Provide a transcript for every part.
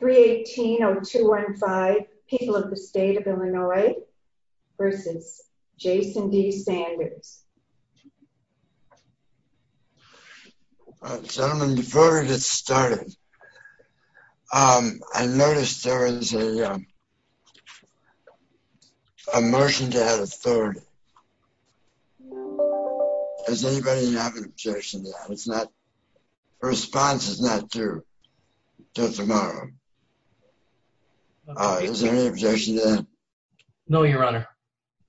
318-0215 People of the State of Illinois versus Jason D. Sanders. Gentlemen, before we get started, I noticed there is a motion to add a third. Has anybody not objected to that? It's not, the response is not until tomorrow. Is there any objection to that? No, your honor.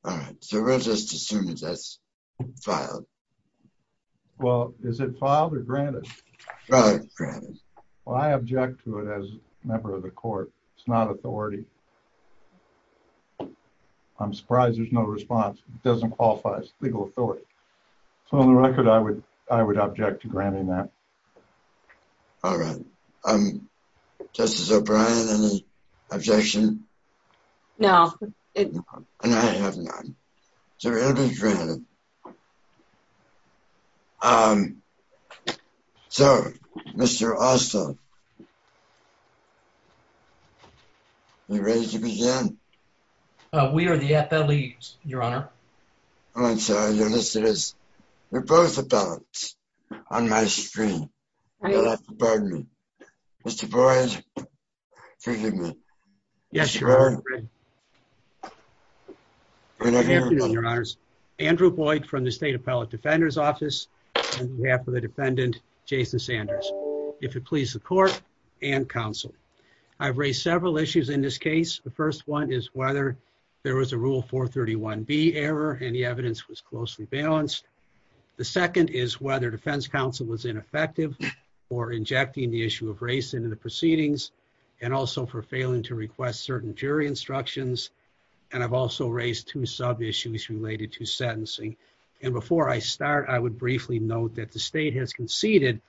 All right, so we'll just assume that's filed. Well, is it filed or granted? Granted. Well, I object to it as a member of the court. It's not authority. I'm surprised there's no response. It doesn't qualify as legal authority. So on the record, I would object to granting that. All right. Justice O'Brien, any objection? No. And I have none. So it'll be granted. So, Mr. Ossoff, are you ready to begin? We are the FLEs, your honor. Oh, I'm sorry. You're both appellants on my screen. You'll have to pardon me. Mr. Boyd, forgive me. Good afternoon, your honors. Andrew Boyd from the State Appellate Defender's Office on behalf of the defendant, Jason Sanders. If it pleases the court and counsel, I've raised several issues in this case. The first one is whether there was a rule 431B error and the evidence was closely balanced. The second is whether defense counsel was ineffective or injecting the issue of race into the proceedings and also for failing to request certain jury instructions. And I've also raised two sub issues related to sentencing. And before I start, I would briefly note that the state has conceded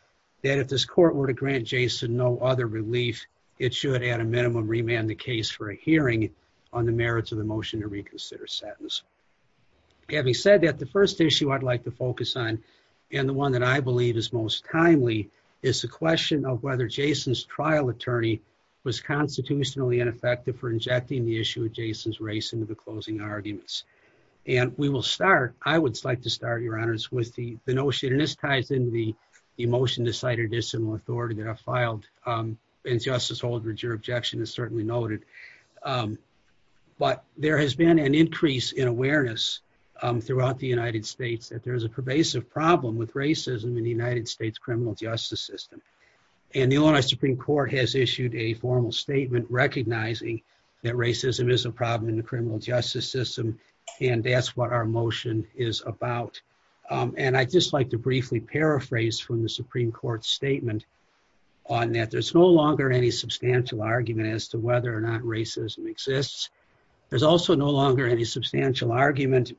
that if this court were to grant Jason no other relief, it should, at a minimum, remand the case for a hearing on the merits of the motion to reconsider sentence. Having said that, the first issue I'd like to focus on and the one that I believe is most timely is the question of whether Jason's trial attorney was constitutionally ineffective for injecting the issue of Jason's race into the closing arguments. And we will start, I would like to start, your honors, with the notion, and this ties into the motion to cite a dissimilar authority that I filed, and Justice Holdred, your objection is certainly noted, but there has been an increase in awareness throughout the United States that there is a pervasive problem with racism in the United States criminal justice system. And the Illinois Supreme Court has issued a formal statement recognizing that racism is a problem in the criminal justice system and that's what our and I'd just like to briefly paraphrase from the Supreme Court's statement on that there's no longer any substantial argument as to whether or not racism exists. There's also no longer any substantial argument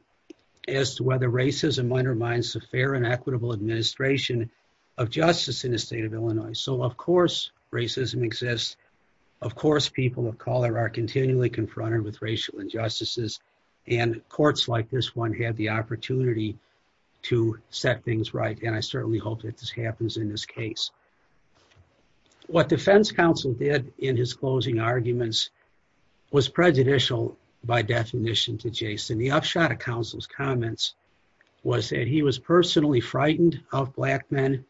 as to whether racism undermines the fair and equitable administration of justice in the state of Illinois. So, of course, racism exists. Of course, people of color are continually confronted with racial injustices and courts like this one have the opportunity to set things right and I certainly hope that this happens in this case. What defense counsel did in his closing arguments was prejudicial by definition to Jason. The upshot of counsel's comments was that he was personally frightened of Black men,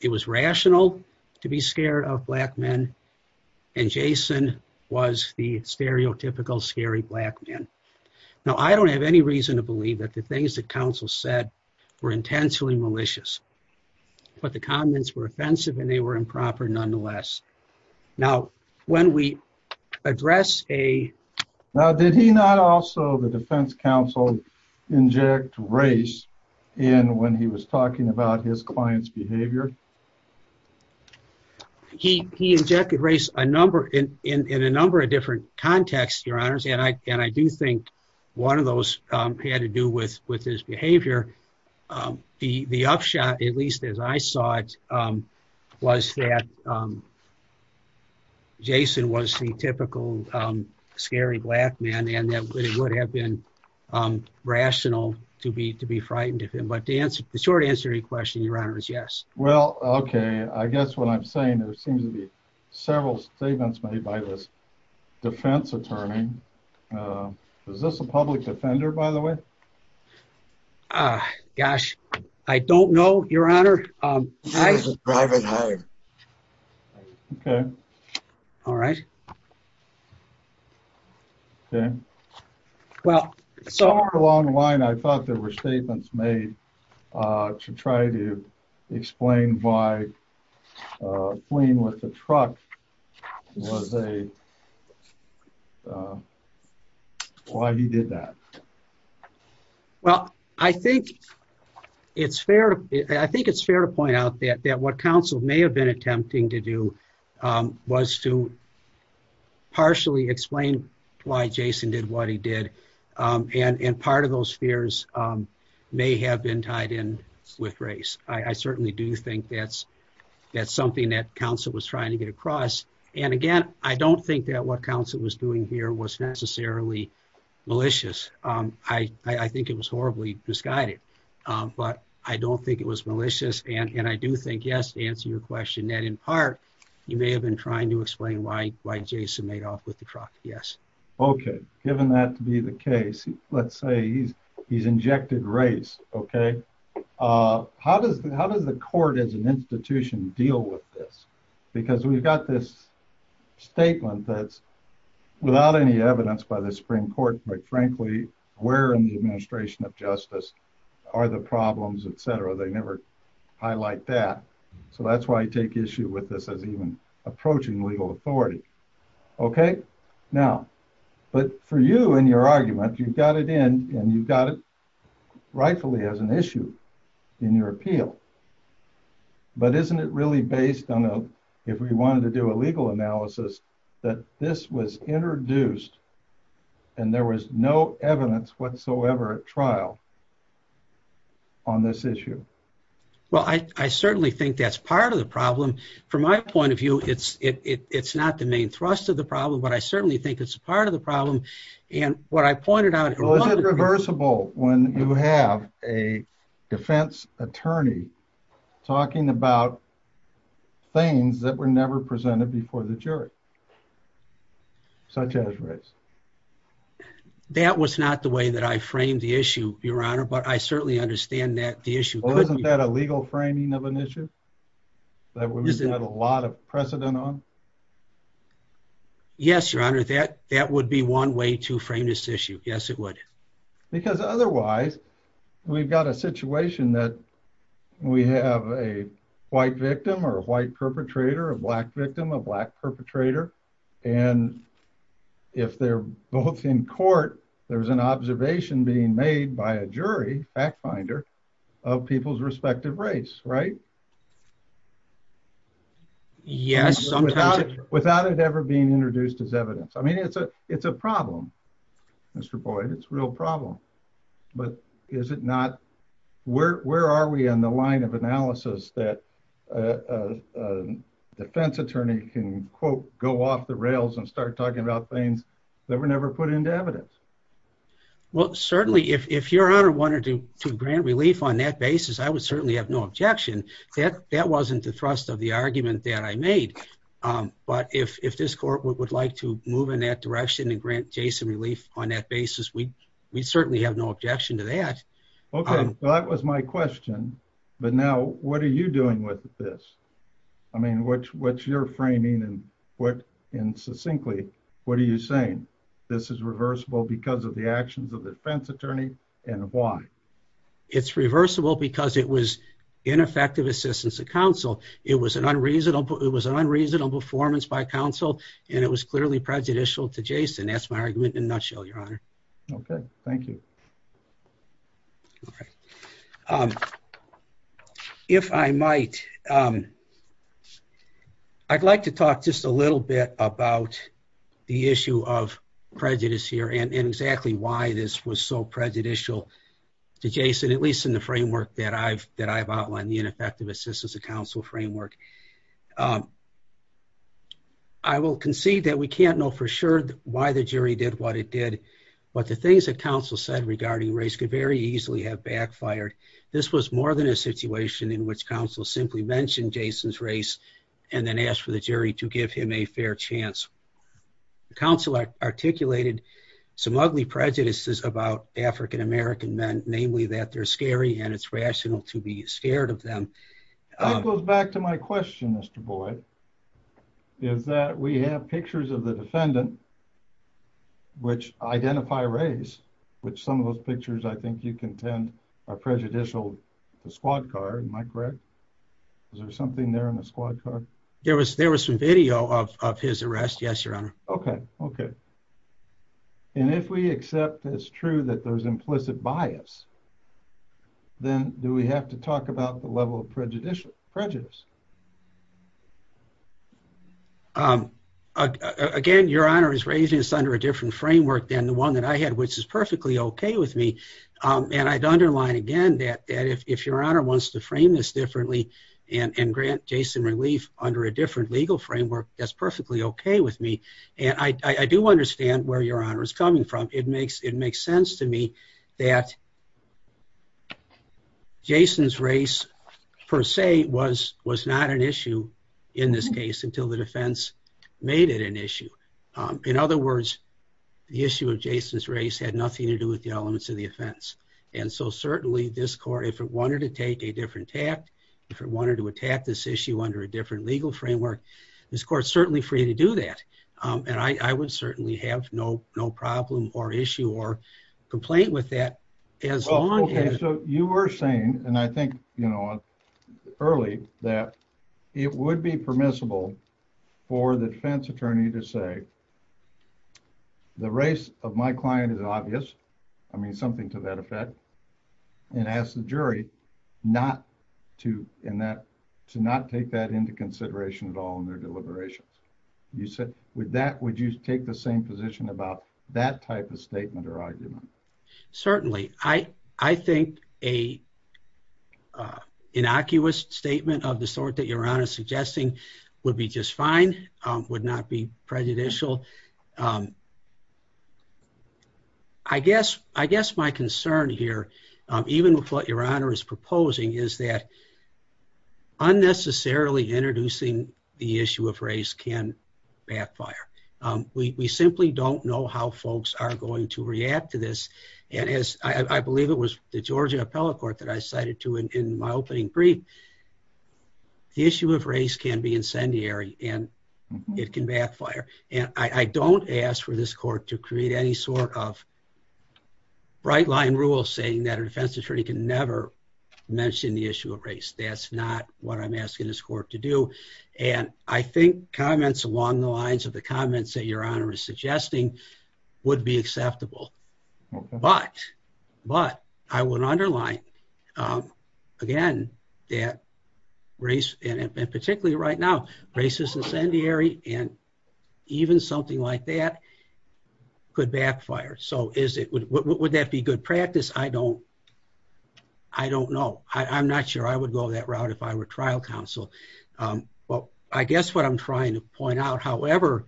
it was rational to be scared of Black men, and Jason was the stereotypical scary Black man. Now, I don't have any reason to believe that the things that counsel said were intentionally malicious, but the comments were offensive and they were improper nonetheless. Now, when we address a... Now, did he not also, the defense counsel, inject race in when he was talking about his client's behavior? He injected race in a number of different contexts, your honors, and I do think one of those had to do with his behavior. The upshot, at least as I saw it, was that Jason was the typical scary Black man and that it would have been rational to be frightened of him. But the short answer to your question, your honors, yes. Well, okay, I guess what I'm several statements made by this defense attorney. Is this a public defender, by the way? Ah, gosh, I don't know, your honor. Okay. All right. Okay. Well, somewhere along the line, I thought there were statements made to try to explain why a plane with a truck was a... Why he did that. Well, I think it's fair to point out that what counsel may have been attempting to do was to partially explain why Jason did what he did. And part of those fears may have been tied in with race. I certainly do think that's something that counsel was trying to get across. And again, I don't think that what counsel was doing here was necessarily malicious. I think it was horribly misguided, but I don't think it was malicious. And I do think, yes, to answer your question, that in part, you may have been trying to explain why Jason made off with the truck. Yes. Okay. Given that to be the case, let's say he's injected race, okay. How does the court as an institution deal with this? Because we've got this statement that's without any evidence by the Supreme Court, but frankly, where in the administration of justice are the problems, et cetera. They never highlight that. So that's why I take issue with this as even approaching legal authority. Okay. Now, but for you and your argument, you've got it in and you've got it rightfully as an issue in your appeal, but isn't it really based on a, if we wanted to do a legal analysis that this was introduced and there was no evidence whatsoever at trial on this issue? Well, I certainly think that's part of the problem. From my point of view, it's not the main thrust of the problem, but I certainly think it's a part of the problem. And what I pointed out was reversible. When you have a defense attorney talking about things that were never presented before the jury, such as race, that was not the way that I framed the issue, your honor. But I certainly understand that the issue wasn't that a legal framing of an issue that we've got a lot of precedent on. Yes, your honor. That, that would be one way to frame this issue. Yes, it would. Because otherwise we've got a situation that we have a white victim or a white perpetrator, a black victim, a black perpetrator. And if they're both in court, there was an observation being made by a jury fact finder of people's respective race, right? Yes. Without it ever being introduced as evidence. I mean, it's a, it's a problem. Mr. Boyd, it's a real problem. But is it not? Where, where are we on the line of analysis that defense attorney can quote, go off the rails and start talking about things that were never put into evidence? Well, certainly if, if your honor wanted to grant relief on that basis, I would certainly have no objection that that wasn't the thrust of the argument that I made. But if, if this court would like to move in that direction and grant Jason relief on that basis, we, we certainly have no objection to that. Okay. Well, that was my question, but now what are you doing with this? I mean, which, what's your framing and what, and succinctly, what are you saying? This is reversible because of the actions of the defense attorney and why it's reversible because it was ineffective assistance to counsel. It was an unreasonable, it was an unreasonable performance by counsel and it was clearly prejudicial to Jason. That's my argument in a nutshell, your honor. Okay. Thank you. All right. Um, if I might, um, I'd like to talk just a little bit about the issue of prejudice here and exactly why this was so prejudicial to Jason, at least in the framework that I've, that I've outlined the ineffective assistance to counsel framework. Um, I will concede that we can't know for sure why the jury did what it did, but the things that counsel said regarding race could very easily have backfired. This was more than a situation in which counsel simply mentioned Jason's race and then asked for the jury to give him a fair chance. Counsel articulated some ugly prejudices about African-American men, namely that they're scary and it's rational to be scared of them. That goes back to my question, Mr. Boyd, is that we have pictures of the defendant, which identify race, which some of those pictures, I think you contend are prejudicial to squad car. Am I correct? Is there something there in squad car? There was, there was some video of his arrest. Yes, your honor. Okay. Okay. And if we accept it's true that there's implicit bias, then do we have to talk about the level of prejudicial prejudice? Um, again, your honor is raising this under a different framework than the one that I had, which is perfectly okay with me. Um, and I'd underline again that, that if, if your honor wants to frame this differently and, and grant Jason relief under a different legal framework, that's perfectly okay with me. And I, I do understand where your honor is coming from. It makes, it makes sense to me that Jason's race per se was, was not an issue in this case until the defense made it an issue. Um, in other words, the issue of Jason's race had nothing to do with the elements of the offense. And so certainly this court, if it wanted to take a different tact, if it wanted to attack this issue under a different legal framework, this court's certainly free to do that. Um, and I, I would certainly have no, no problem or issue or complaint with that as long as you were saying. And I think, you know, early that it would be permissible for the defense attorney to say the race of my client is obvious. I mean something to that effect and ask the jury not to in that, to not take that into consideration at all in their deliberations. You said with that, would you take the same position about that type of statement or argument? Certainly. I, I think a, uh, innocuous statement of the sort that your honor is suggesting would be just fine, um, would not be prejudicial. Um, I guess, I guess my concern here, um, even with what your honor is proposing is that unnecessarily introducing the issue of race can backfire. Um, we, we simply don't know how folks are going to react to this. And as I believe it was the Georgia appellate court that I cited to in my opening brief, the issue of race can be incendiary and it can backfire. And I don't ask for this court to create any sort of bright line rule saying that a defense attorney can never mention the issue of race. That's not what I'm asking this court to do. And I think comments along the lines of the comments that your honor is suggesting would be acceptable, but, but I would underline, um, again, that race and particularly right now, racism is incendiary and even something like that could backfire. So is it, would that be good practice? I don't, I don't know. I'm not sure I would go that route if I were trial counsel. Um, well, I guess what I'm trying to point out, however,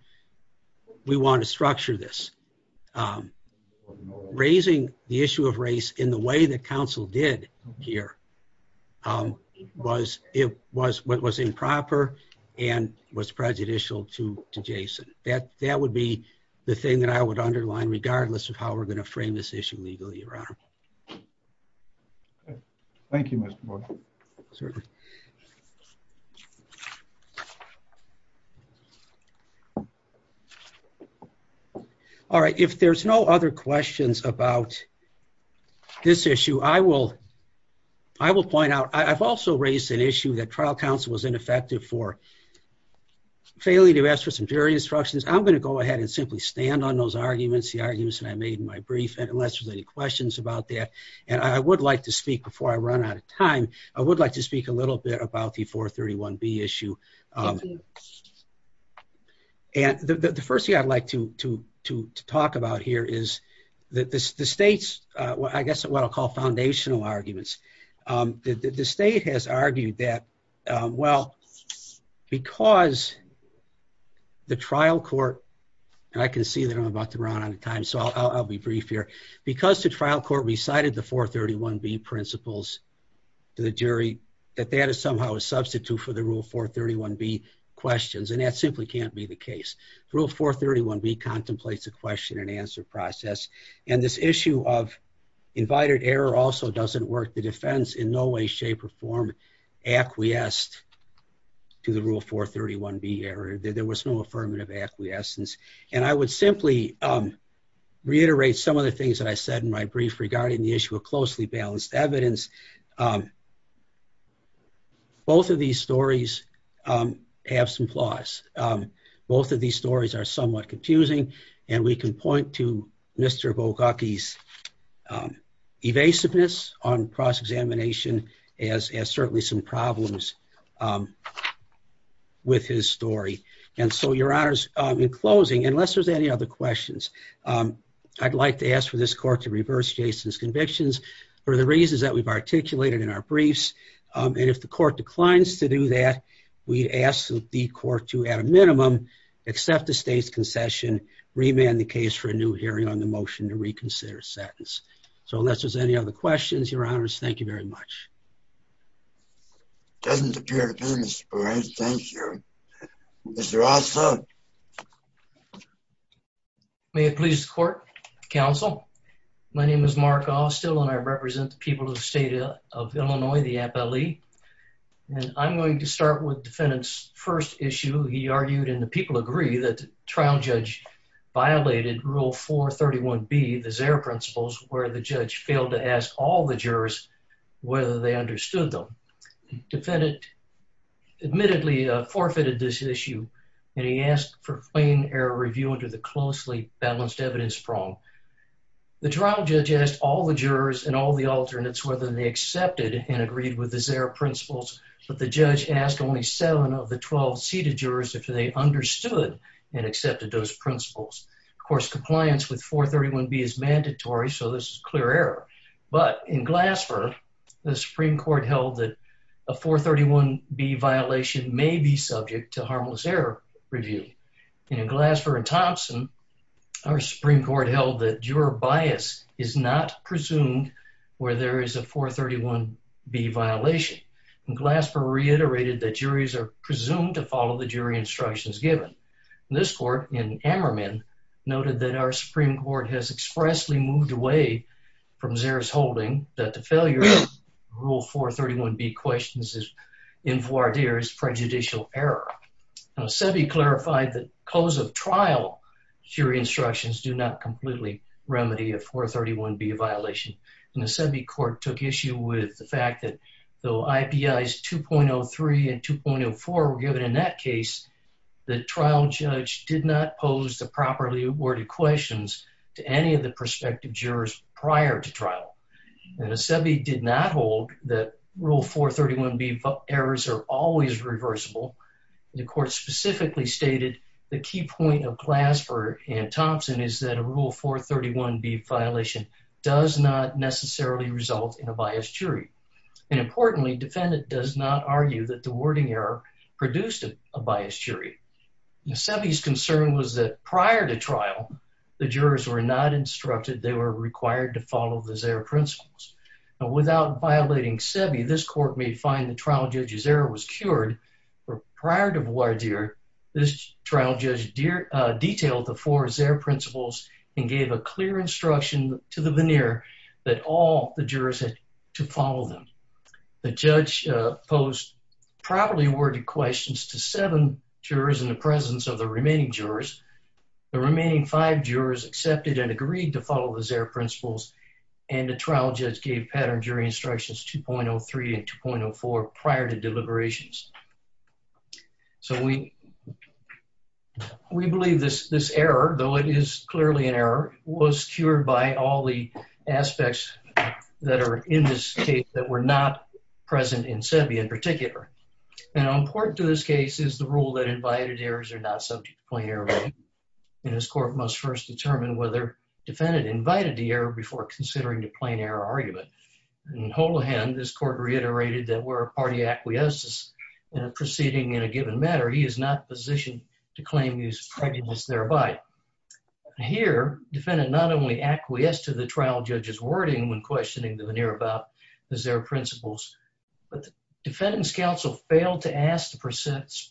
we want to structure this, um, raising the issue of race in the way that counsel did here, um, was it was what was improper and was prejudicial to Jason. That, that would be the thing that I would underline regardless of how we're going to frame this issue legally around. Okay. Thank you, Mr. Boyd. Certainly. All right. If there's no other questions about this issue, I will, I will point out, I've also raised an issue that trial counsel was ineffective for failing to ask for some jury instructions. I'm going to go ahead and simply stand on those arguments, the arguments that I made in my brief, and unless there's any questions about that, and I would like to speak before I run out of time, I would like to speak a little bit about the 431B issue. Um, and the, the, the first thing I'd like to, to, to, to talk about here is that this, the state's, uh, I guess what I'll call foundational arguments. Um, the, the, the state has argued that, um, well, because the trial court, and I can see that I'm about to run out of time, so I'll, I'll, I'll be brief here because the trial court recited the 431B principles to the jury, that that is somehow a substitute for the rule 431B questions. And that simply can't be the case. Rule 431B contemplates a question and answer process. And this issue of invited error also doesn't work. The defense in no way, shape, or form acquiesced to the rule 431B error. There was no affirmative acquiescence. And I would simply, um, reiterate some of the things that I said in my brief regarding the issue of closely balanced evidence. Um, both of these stories, um, have some flaws. Um, both of these stories are somewhat confusing and we can point to Mr. Bogucki's, um, evasiveness on cross-examination as, as certainly some problems, um, with his story. And so your honors, um, in closing, unless there's any other questions, um, I'd like to ask for this court to reverse Jason's convictions for the reasons that we've articulated in our briefs. Um, and if the court declines to do that, we ask the court to, at a minimum, accept the state's concession, remand the case for a new hearing on the motion to reconsider sentence. So unless there's any other questions, your honors, thank you very much. Doesn't appear to please the court. Counsel, my name is Mark Austell, and I represent the people of the state of Illinois, the FLE. And I'm going to start with defendant's first issue. He argued in the people agree that trial judge violated rule 431B, the Xer principles, where the judge failed to ask all the jurors whether they understood them. Defendant admittedly, uh, forfeited this issue and he asked for plain error review under the closely balanced evidence prong. The trial judge asked all the jurors and all the alternates whether they accepted and agreed with the Xer principles, but the judge asked only seven of the 12 seated jurors if they understood and accepted those principles. Of course, compliance with 431B is mandatory, so this is clear error. But in Glasper, the Supreme Court held that a 431B violation may be subject to harmless error review. And in Glasper and Thompson, our Supreme Court held that juror bias is not presumed where there is a 431B violation. And Glasper reiterated that juries are presumed to follow the jury instructions given. This court in Ammerman noted that our Supreme Court has expressly moved away from Xer's holding that the failure of rule 431B questions is in voir dire as prejudicial error. SEBI clarified that close of trial jury instructions do not completely remedy a 431B violation. And the SEBI court took issue with the fact that though IPIs 2.03 and 2.04 were given in that case, the trial judge did not pose the properly worded questions to any of the prospective jurors prior to trial. And SEBI did not hold that rule 431B errors are always reversible. The court specifically stated the key point of Glasper and Thompson is that a rule 431B violation does not necessarily result in a biased jury. And importantly, defendant does not argue that the wording error produced a biased jury. SEBI's concern was that prior to trial, the jurors were not instructed. They were required to follow the Xer principles. And without violating SEBI, this court may find the trial judge's error was cured. Prior to voir dire, this trial judge detailed the four Xer principles and gave a clear instruction to the veneer that all the jurors had to follow them. The judge posed properly worded questions to seven jurors in the presence of the remaining jurors. The remaining five jurors accepted and agreed to follow the Xer principles. And the trial judge gave pattern jury instructions 2.03 and 2.04 prior to deliberations. So we believe this error, though it is clearly an error, was cured by all the aspects that are in this case that were not present in SEBI in particular. And important to this case is the rule that invited errors are not subject to plain error. And this court must first determine whether defendant invited the error before considering the plain error argument. In Holohan, this court reiterated that were a party acquiesces in a proceeding in a given matter, he is not positioned to claim his prejudice thereby. Here, defendant not only acquiesced to the trial judge's wording when questioning the veneer about the Xer principles, but the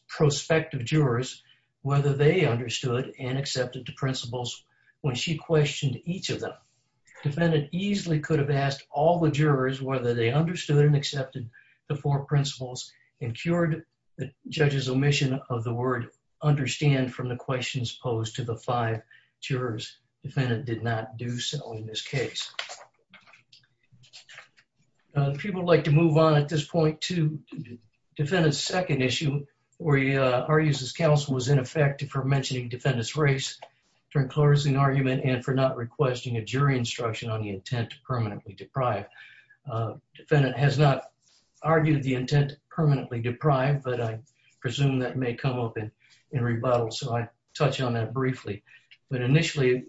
prospective jurors whether they understood and accepted the principles when she questioned each of them. Defendant easily could have asked all the jurors whether they understood and accepted the four principles and cured the judge's omission of the word understand from the questions posed to the five jurors. Defendant did not do so in this case. People like to move on at this point to defendant's second issue, where he argues his counsel was in effect for mentioning defendant's race during closing argument and for not requesting a jury instruction on the intent to permanently deprive. Defendant has not argued the intent to permanently deprive, but I presume that may come up in rebuttal, so I touch on that briefly. But initially,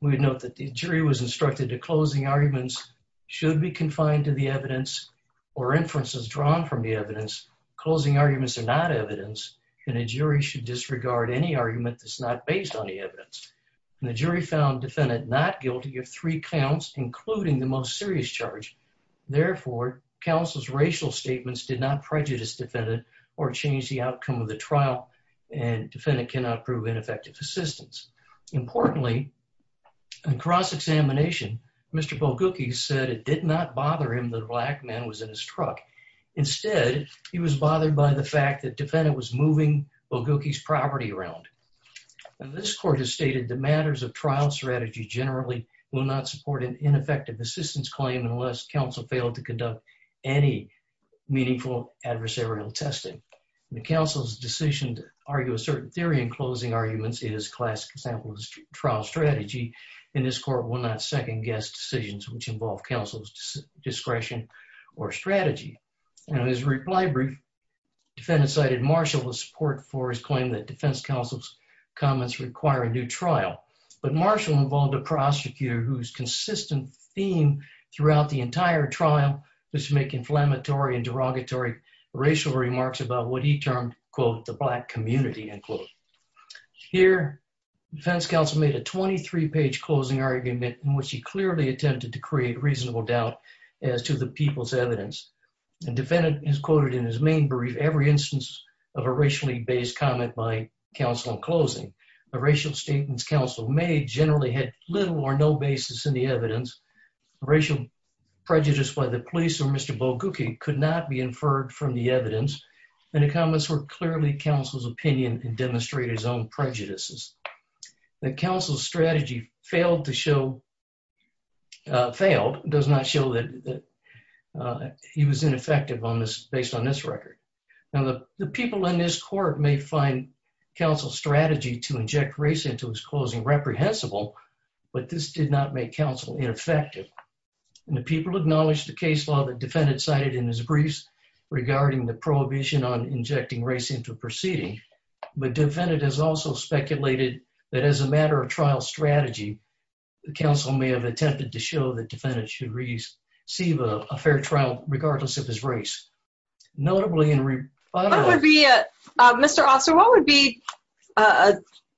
we would note that the jury was instructed to closing arguments should be confined to the evidence or inferences drawn from the evidence. Closing arguments are not evidence, and a jury should disregard any argument that's not based on the evidence. And the jury found defendant not guilty of three counts, including the most serious charge. Therefore, counsel's racial statements did not prejudice defendant or change the outcome of the trial, and defendant cannot prove ineffective assistance. Importantly, in cross-examination, Mr. Bogucki said it did not bother him that a black man was in his truck. Instead, he was bothered by the fact that defendant was moving Bogucki's property around. And this court has stated the matters of trial strategy generally will not support an ineffective assistance claim unless counsel failed to conduct any meaningful adversarial testing. The counsel's decision to argue a certain theory in closing arguments is a classic example of trial strategy, and this court will not second-guess decisions which involve counsel's discretion or strategy. In his reply brief, defendant cited Marshall with support for his claim that defense counsel's comments require a new trial, but Marshall involved a prosecutor whose consistent theme throughout the entire trial was to make inflammatory and derogatory racial remarks about what he termed, quote, the black community, end quote. Here, defense counsel made a 23-page closing argument in which he clearly attempted to create reasonable doubt as to the people's evidence. And defendant has quoted in his main brief every instance of a racially-based comment by counsel in closing. The racial statements counsel made generally had little or no basis in the evidence. Racial prejudice by the police or Mr. Bogucki could not be inferred from the evidence, and the comments were clearly counsel's opinion and demonstrated his own prejudices. The counsel's strategy failed to show, failed, does not show that he was ineffective on this, based on this record. Now the people in this court may find counsel's but this did not make counsel ineffective. And the people acknowledged the case law that defendant cited in his briefs regarding the prohibition on injecting race into proceeding, but defendant has also speculated that as a matter of trial strategy, the counsel may have attempted to show that defendant should receive a fair trial regardless of his race. Notably, in reply... Mr. Officer, what would be a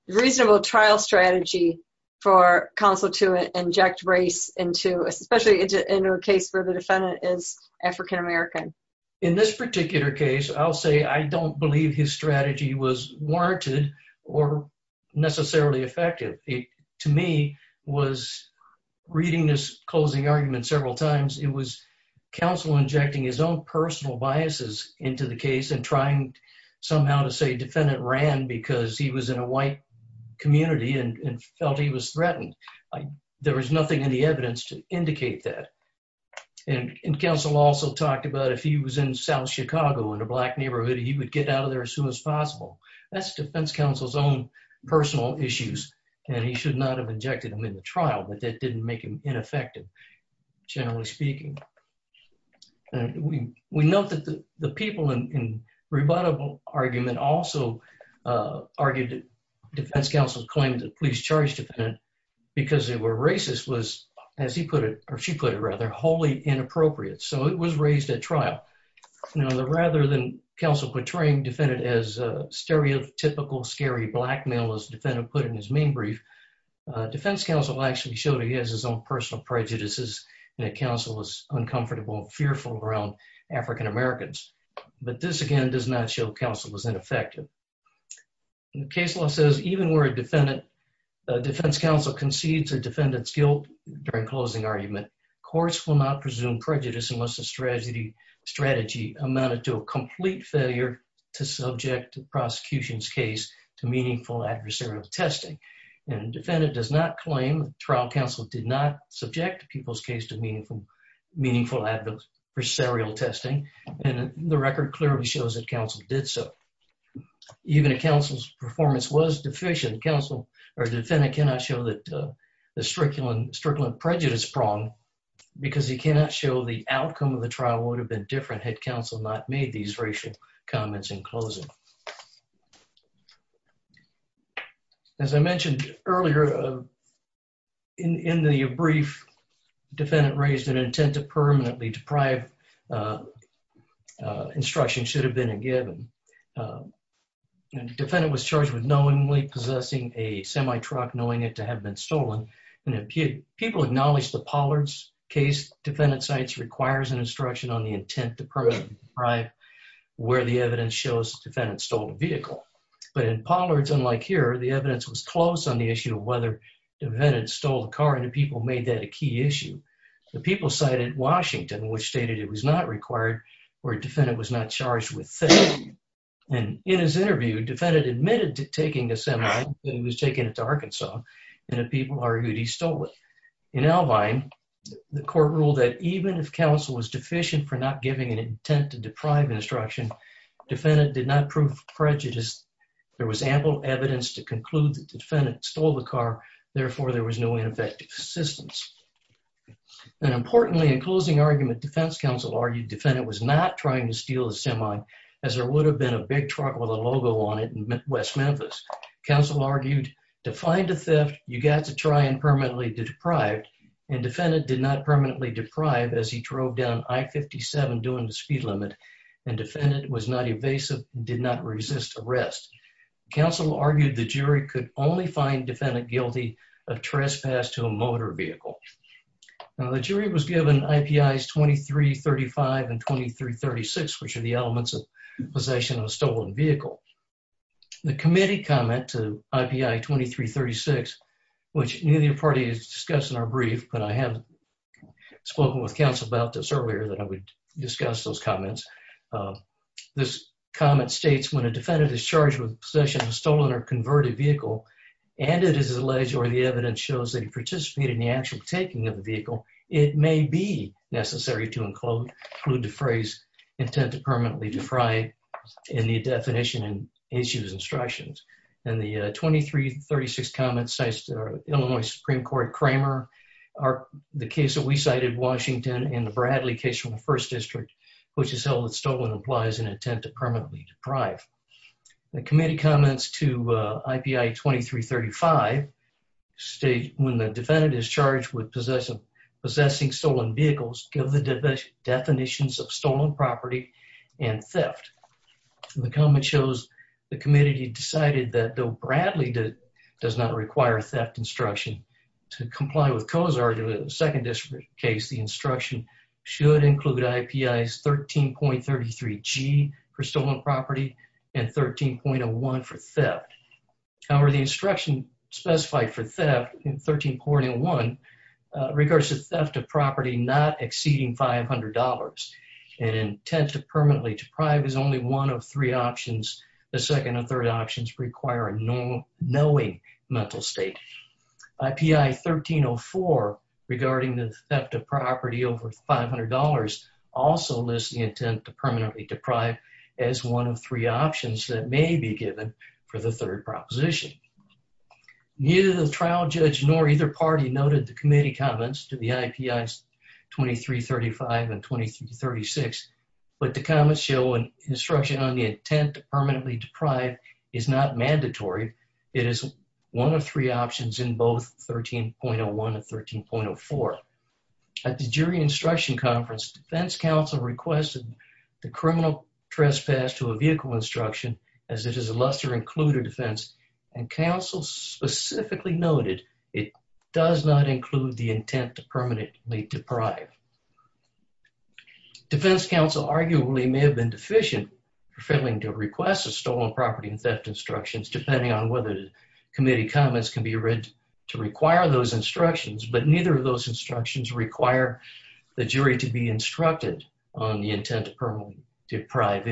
reasonable trial strategy for counsel to inject race into, especially into a case where the defendant is African-American? In this particular case, I'll say I don't believe his strategy was warranted or necessarily effective. It, to me, was, reading this closing argument several times, it was counsel injecting his own personal biases into the case and trying somehow to say defendant ran because he was in a white community and felt he was threatened. There was nothing in the evidence to indicate that. And counsel also talked about if he was in South Chicago, in a Black neighborhood, he would get out of there as soon as possible. That's defense counsel's own personal issues, and he should not have injected him in the trial, but that didn't make him ineffective, generally speaking. We note that the people in rebuttable argument also argued that defense counsel claimed that police charged defendant because they were racist was, as he put it, or she put it rather, wholly inappropriate. So it was raised at trial. Now, rather than counsel portraying defendant as stereotypical, scary black male, as defendant put in his main brief, defense counsel actually showed he has his own personal prejudices and that counsel was uncomfortable and fearful around African Americans. But this, again, does not show counsel was ineffective. Case law says even where a defendant, defense counsel concedes a defendant's guilt during closing argument, courts will not presume prejudice unless the strategy amounted to a complete failure to subject prosecution's case to meaningful adversarial testing. And defendant does not claim trial counsel did not subject people's case to meaningful adversarial testing, and the record clearly shows that counsel did so. Even if counsel's performance was deficient, counsel or defendant cannot show that the strictly prejudice prong because he cannot show the outcome of the trial would have been different had counsel not made these racial comments in closing. As I mentioned earlier, in the brief, defendant raised an intent to permanently deprive instruction should have been a given. Defendant was charged with knowingly possessing a semi-truck, knowing it to have been stolen, and if people acknowledge the Pollard's case, defendant's science requires an instruction on the intent to permanently deprive where the evidence shows defendant stole a vehicle. But in Pollard's, unlike here, the evidence was close on the issue of whether defendant stole a car, and the people made that a key issue. The people cited Washington, which stated it was not required where defendant was not charged with theft. And in his interview, defendant admitted to taking a semi-truck, and he was taking it to Arkansas, and the people argued he stole it. In Albine, the court ruled that even if counsel was deficient for not giving an intent to deprive instruction, defendant did not prove prejudice. There was ample evidence to conclude that the defendant stole the car, therefore there was no ineffective assistance. And importantly, in closing argument, defense counsel argued defendant was not trying to steal the semi, as there would have been a big truck with a logo on it in West Memphis. Counsel argued, to find a theft, you got to try and permanently deprive, and defendant did not permanently deprive as he drove down I-57, doing the speed limit, and defendant was not evasive, did not resist arrest. Counsel argued the jury could only find defendant guilty of trespass to a motor vehicle. Now, the jury was given IPIs 2335 and 2336, which are the elements of possession of a stolen vehicle. The committee comment to IPI 2336, which neither party has discussed in our brief, but I have spoken with counsel about this earlier, that I would discuss those comments. This comment states, when a defendant is charged with possession of a stolen or converted vehicle, and it is alleged or the evidence shows that he participated in the actual taking of the vehicle, it may be necessary to include the phrase, intent to permanently deprive, in the definition and issues instructions. And the 2336 comment cites Illinois Supreme Court Cramer, the case that we cited, Washington, and the Bradley case from the First District, which is held that stolen implies an intent to permanently deprive. The committee comments to IPI 2335, when the defendant is charged with possessing stolen vehicles, give the definitions of stolen property and theft. The comment shows the committee decided that though Bradley does not require theft instruction to comply with Coe's argument, the Second District case, the instruction should include IPIs 13.33G for stolen property and 13.01 for theft. However, the instruction specified for theft in 13.01 regards to theft of property not exceeding $500. An intent to permanently deprive is only one of three options. The second and third options require a knowing mental state. IPI 13.04, regarding the theft of property over $500, also lists the intent to permanently deprive as one of three options that may be given for the third proposition. Neither the trial judge nor either party noted the committee comments to the IPIs 2335 and 2336, but the comments show instruction on the intent to permanently deprive is not mandatory. It is one of three options in both 13.01 and 13.04. At the jury instruction conference, Defense Council requested the criminal trespass to a vehicle instruction, as it is a lesser-included defense and counsel specifically noted it does not include the intent to permanently deprive. Defense Council arguably may have been deficient, failing to request a stolen property and theft instructions, depending on whether the committee comments can be read to require those instructions, but neither of those instructions require the jury to be instructed on the intent to permanently deprive.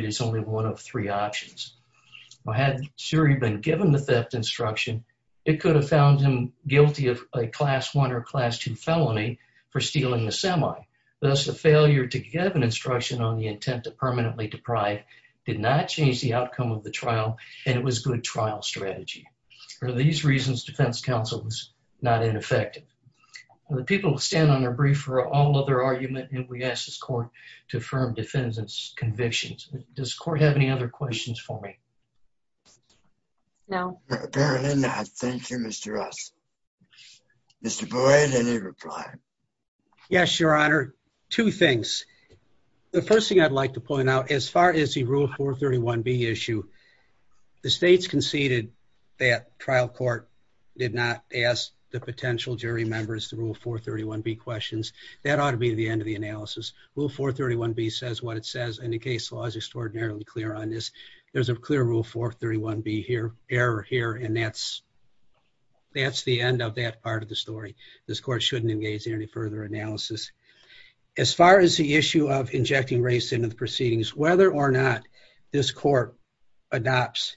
Had the jury been given the theft instruction, it could have found him guilty of a Class I or Class II felony for stealing the semi. Thus, the failure to give an instruction on the intent to permanently deprive did not change the outcome of the trial, and it was good trial strategy. For these reasons, Defense Council was not ineffective. The people will stand on their brief for all other argument, and we ask this court to affirm defendant's convictions. Does court have any other questions for me? No. Apparently not. Thank you, Mr. Ross. Mr. Boyd, any reply? Yes, Your Honor. Two things. The first thing I'd like to point out, as far as the Rule 431B issue, the states conceded that trial court did not ask the potential jury members the Rule 431B questions. That ought to be the end of the analysis. Rule 431B says what case law is extraordinarily clear on this. There's a clear Rule 431B error here, and that's the end of that part of the story. This court shouldn't engage in any further analysis. As far as the issue of injecting race into the proceedings, whether or not this court adopts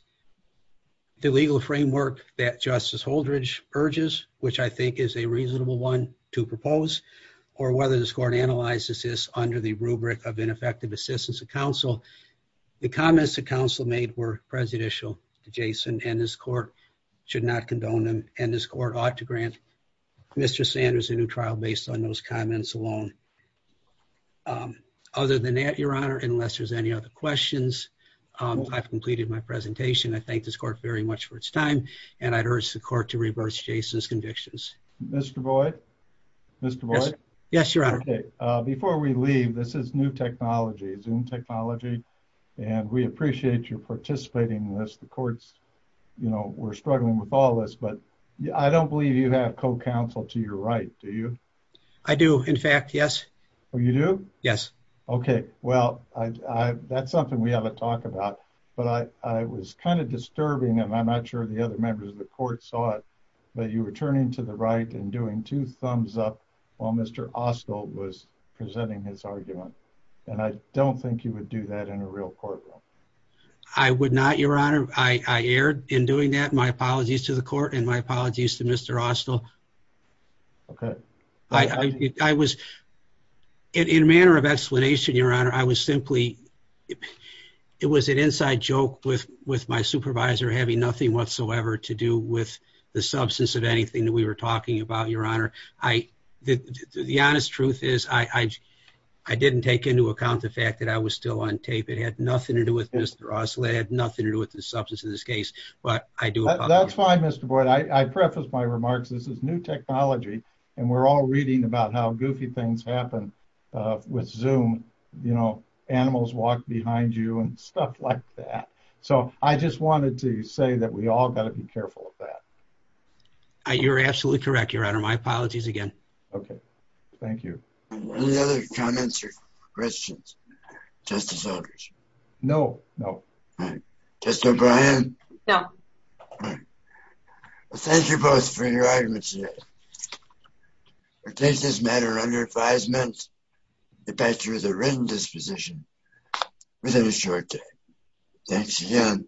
the legal framework that Justice Holdredge urges, which I think is a reasonable one to propose, or whether this court analyzes this under the rubric of ineffective assistance to counsel, the comments the counsel made were prejudicial to Jason, and this court should not condone them, and this court ought to grant Mr. Sanders a new trial based on those comments alone. Other than that, Your Honor, unless there's any other questions, I've completed my presentation. I thank this court very much for its time, and I'd urge the court to reverse Jason's convictions. Mr. Boyd? Mr. Boyd? Yes, Your Honor. Okay, before we leave, this is new technology, Zoom technology, and we appreciate your participating in this. The court's, you know, we're struggling with all this, but I don't believe you have co-counsel to your right, do you? I do, in fact, yes. Oh, you do? Yes. Okay, well, that's something we haven't talked about, but I was kind of disturbing, and I'm not sure the other members of the court saw it, but you were turning to the right and doing two thumbs up while Mr. Austell was presenting his argument, and I don't think you would do that in a real courtroom. I would not, Your Honor. I erred in doing that. My apologies to the court and my apologies to Mr. Austell. Okay. I was, in a manner of explanation, Your Honor, I was simply, it was an inside joke with my supervisor having nothing whatsoever to do with the substance of anything that we were talking about, Your Honor. The honest truth is I didn't take into account the fact that I was still on tape. It had nothing to do with Mr. Austell. It had nothing to do with the substance of this case, but I do apologize. That's fine, Mr. Boyd. I prefaced my remarks. This is new technology, and we're all reading about how goofy things happen with Zoom, you know, animals walk behind you and stuff like that. So I just wanted to say that we all got to be careful of that. You're absolutely correct, Your Honor. My apologies again. Okay. Thank you. Any other comments or questions, Justice Eldridge? No. No. All right. Justice O'Brien? No. All right. Well, thank you both for your arguments today. It takes this matter under five minutes to pass through the written disposition within a short time. Thanks again.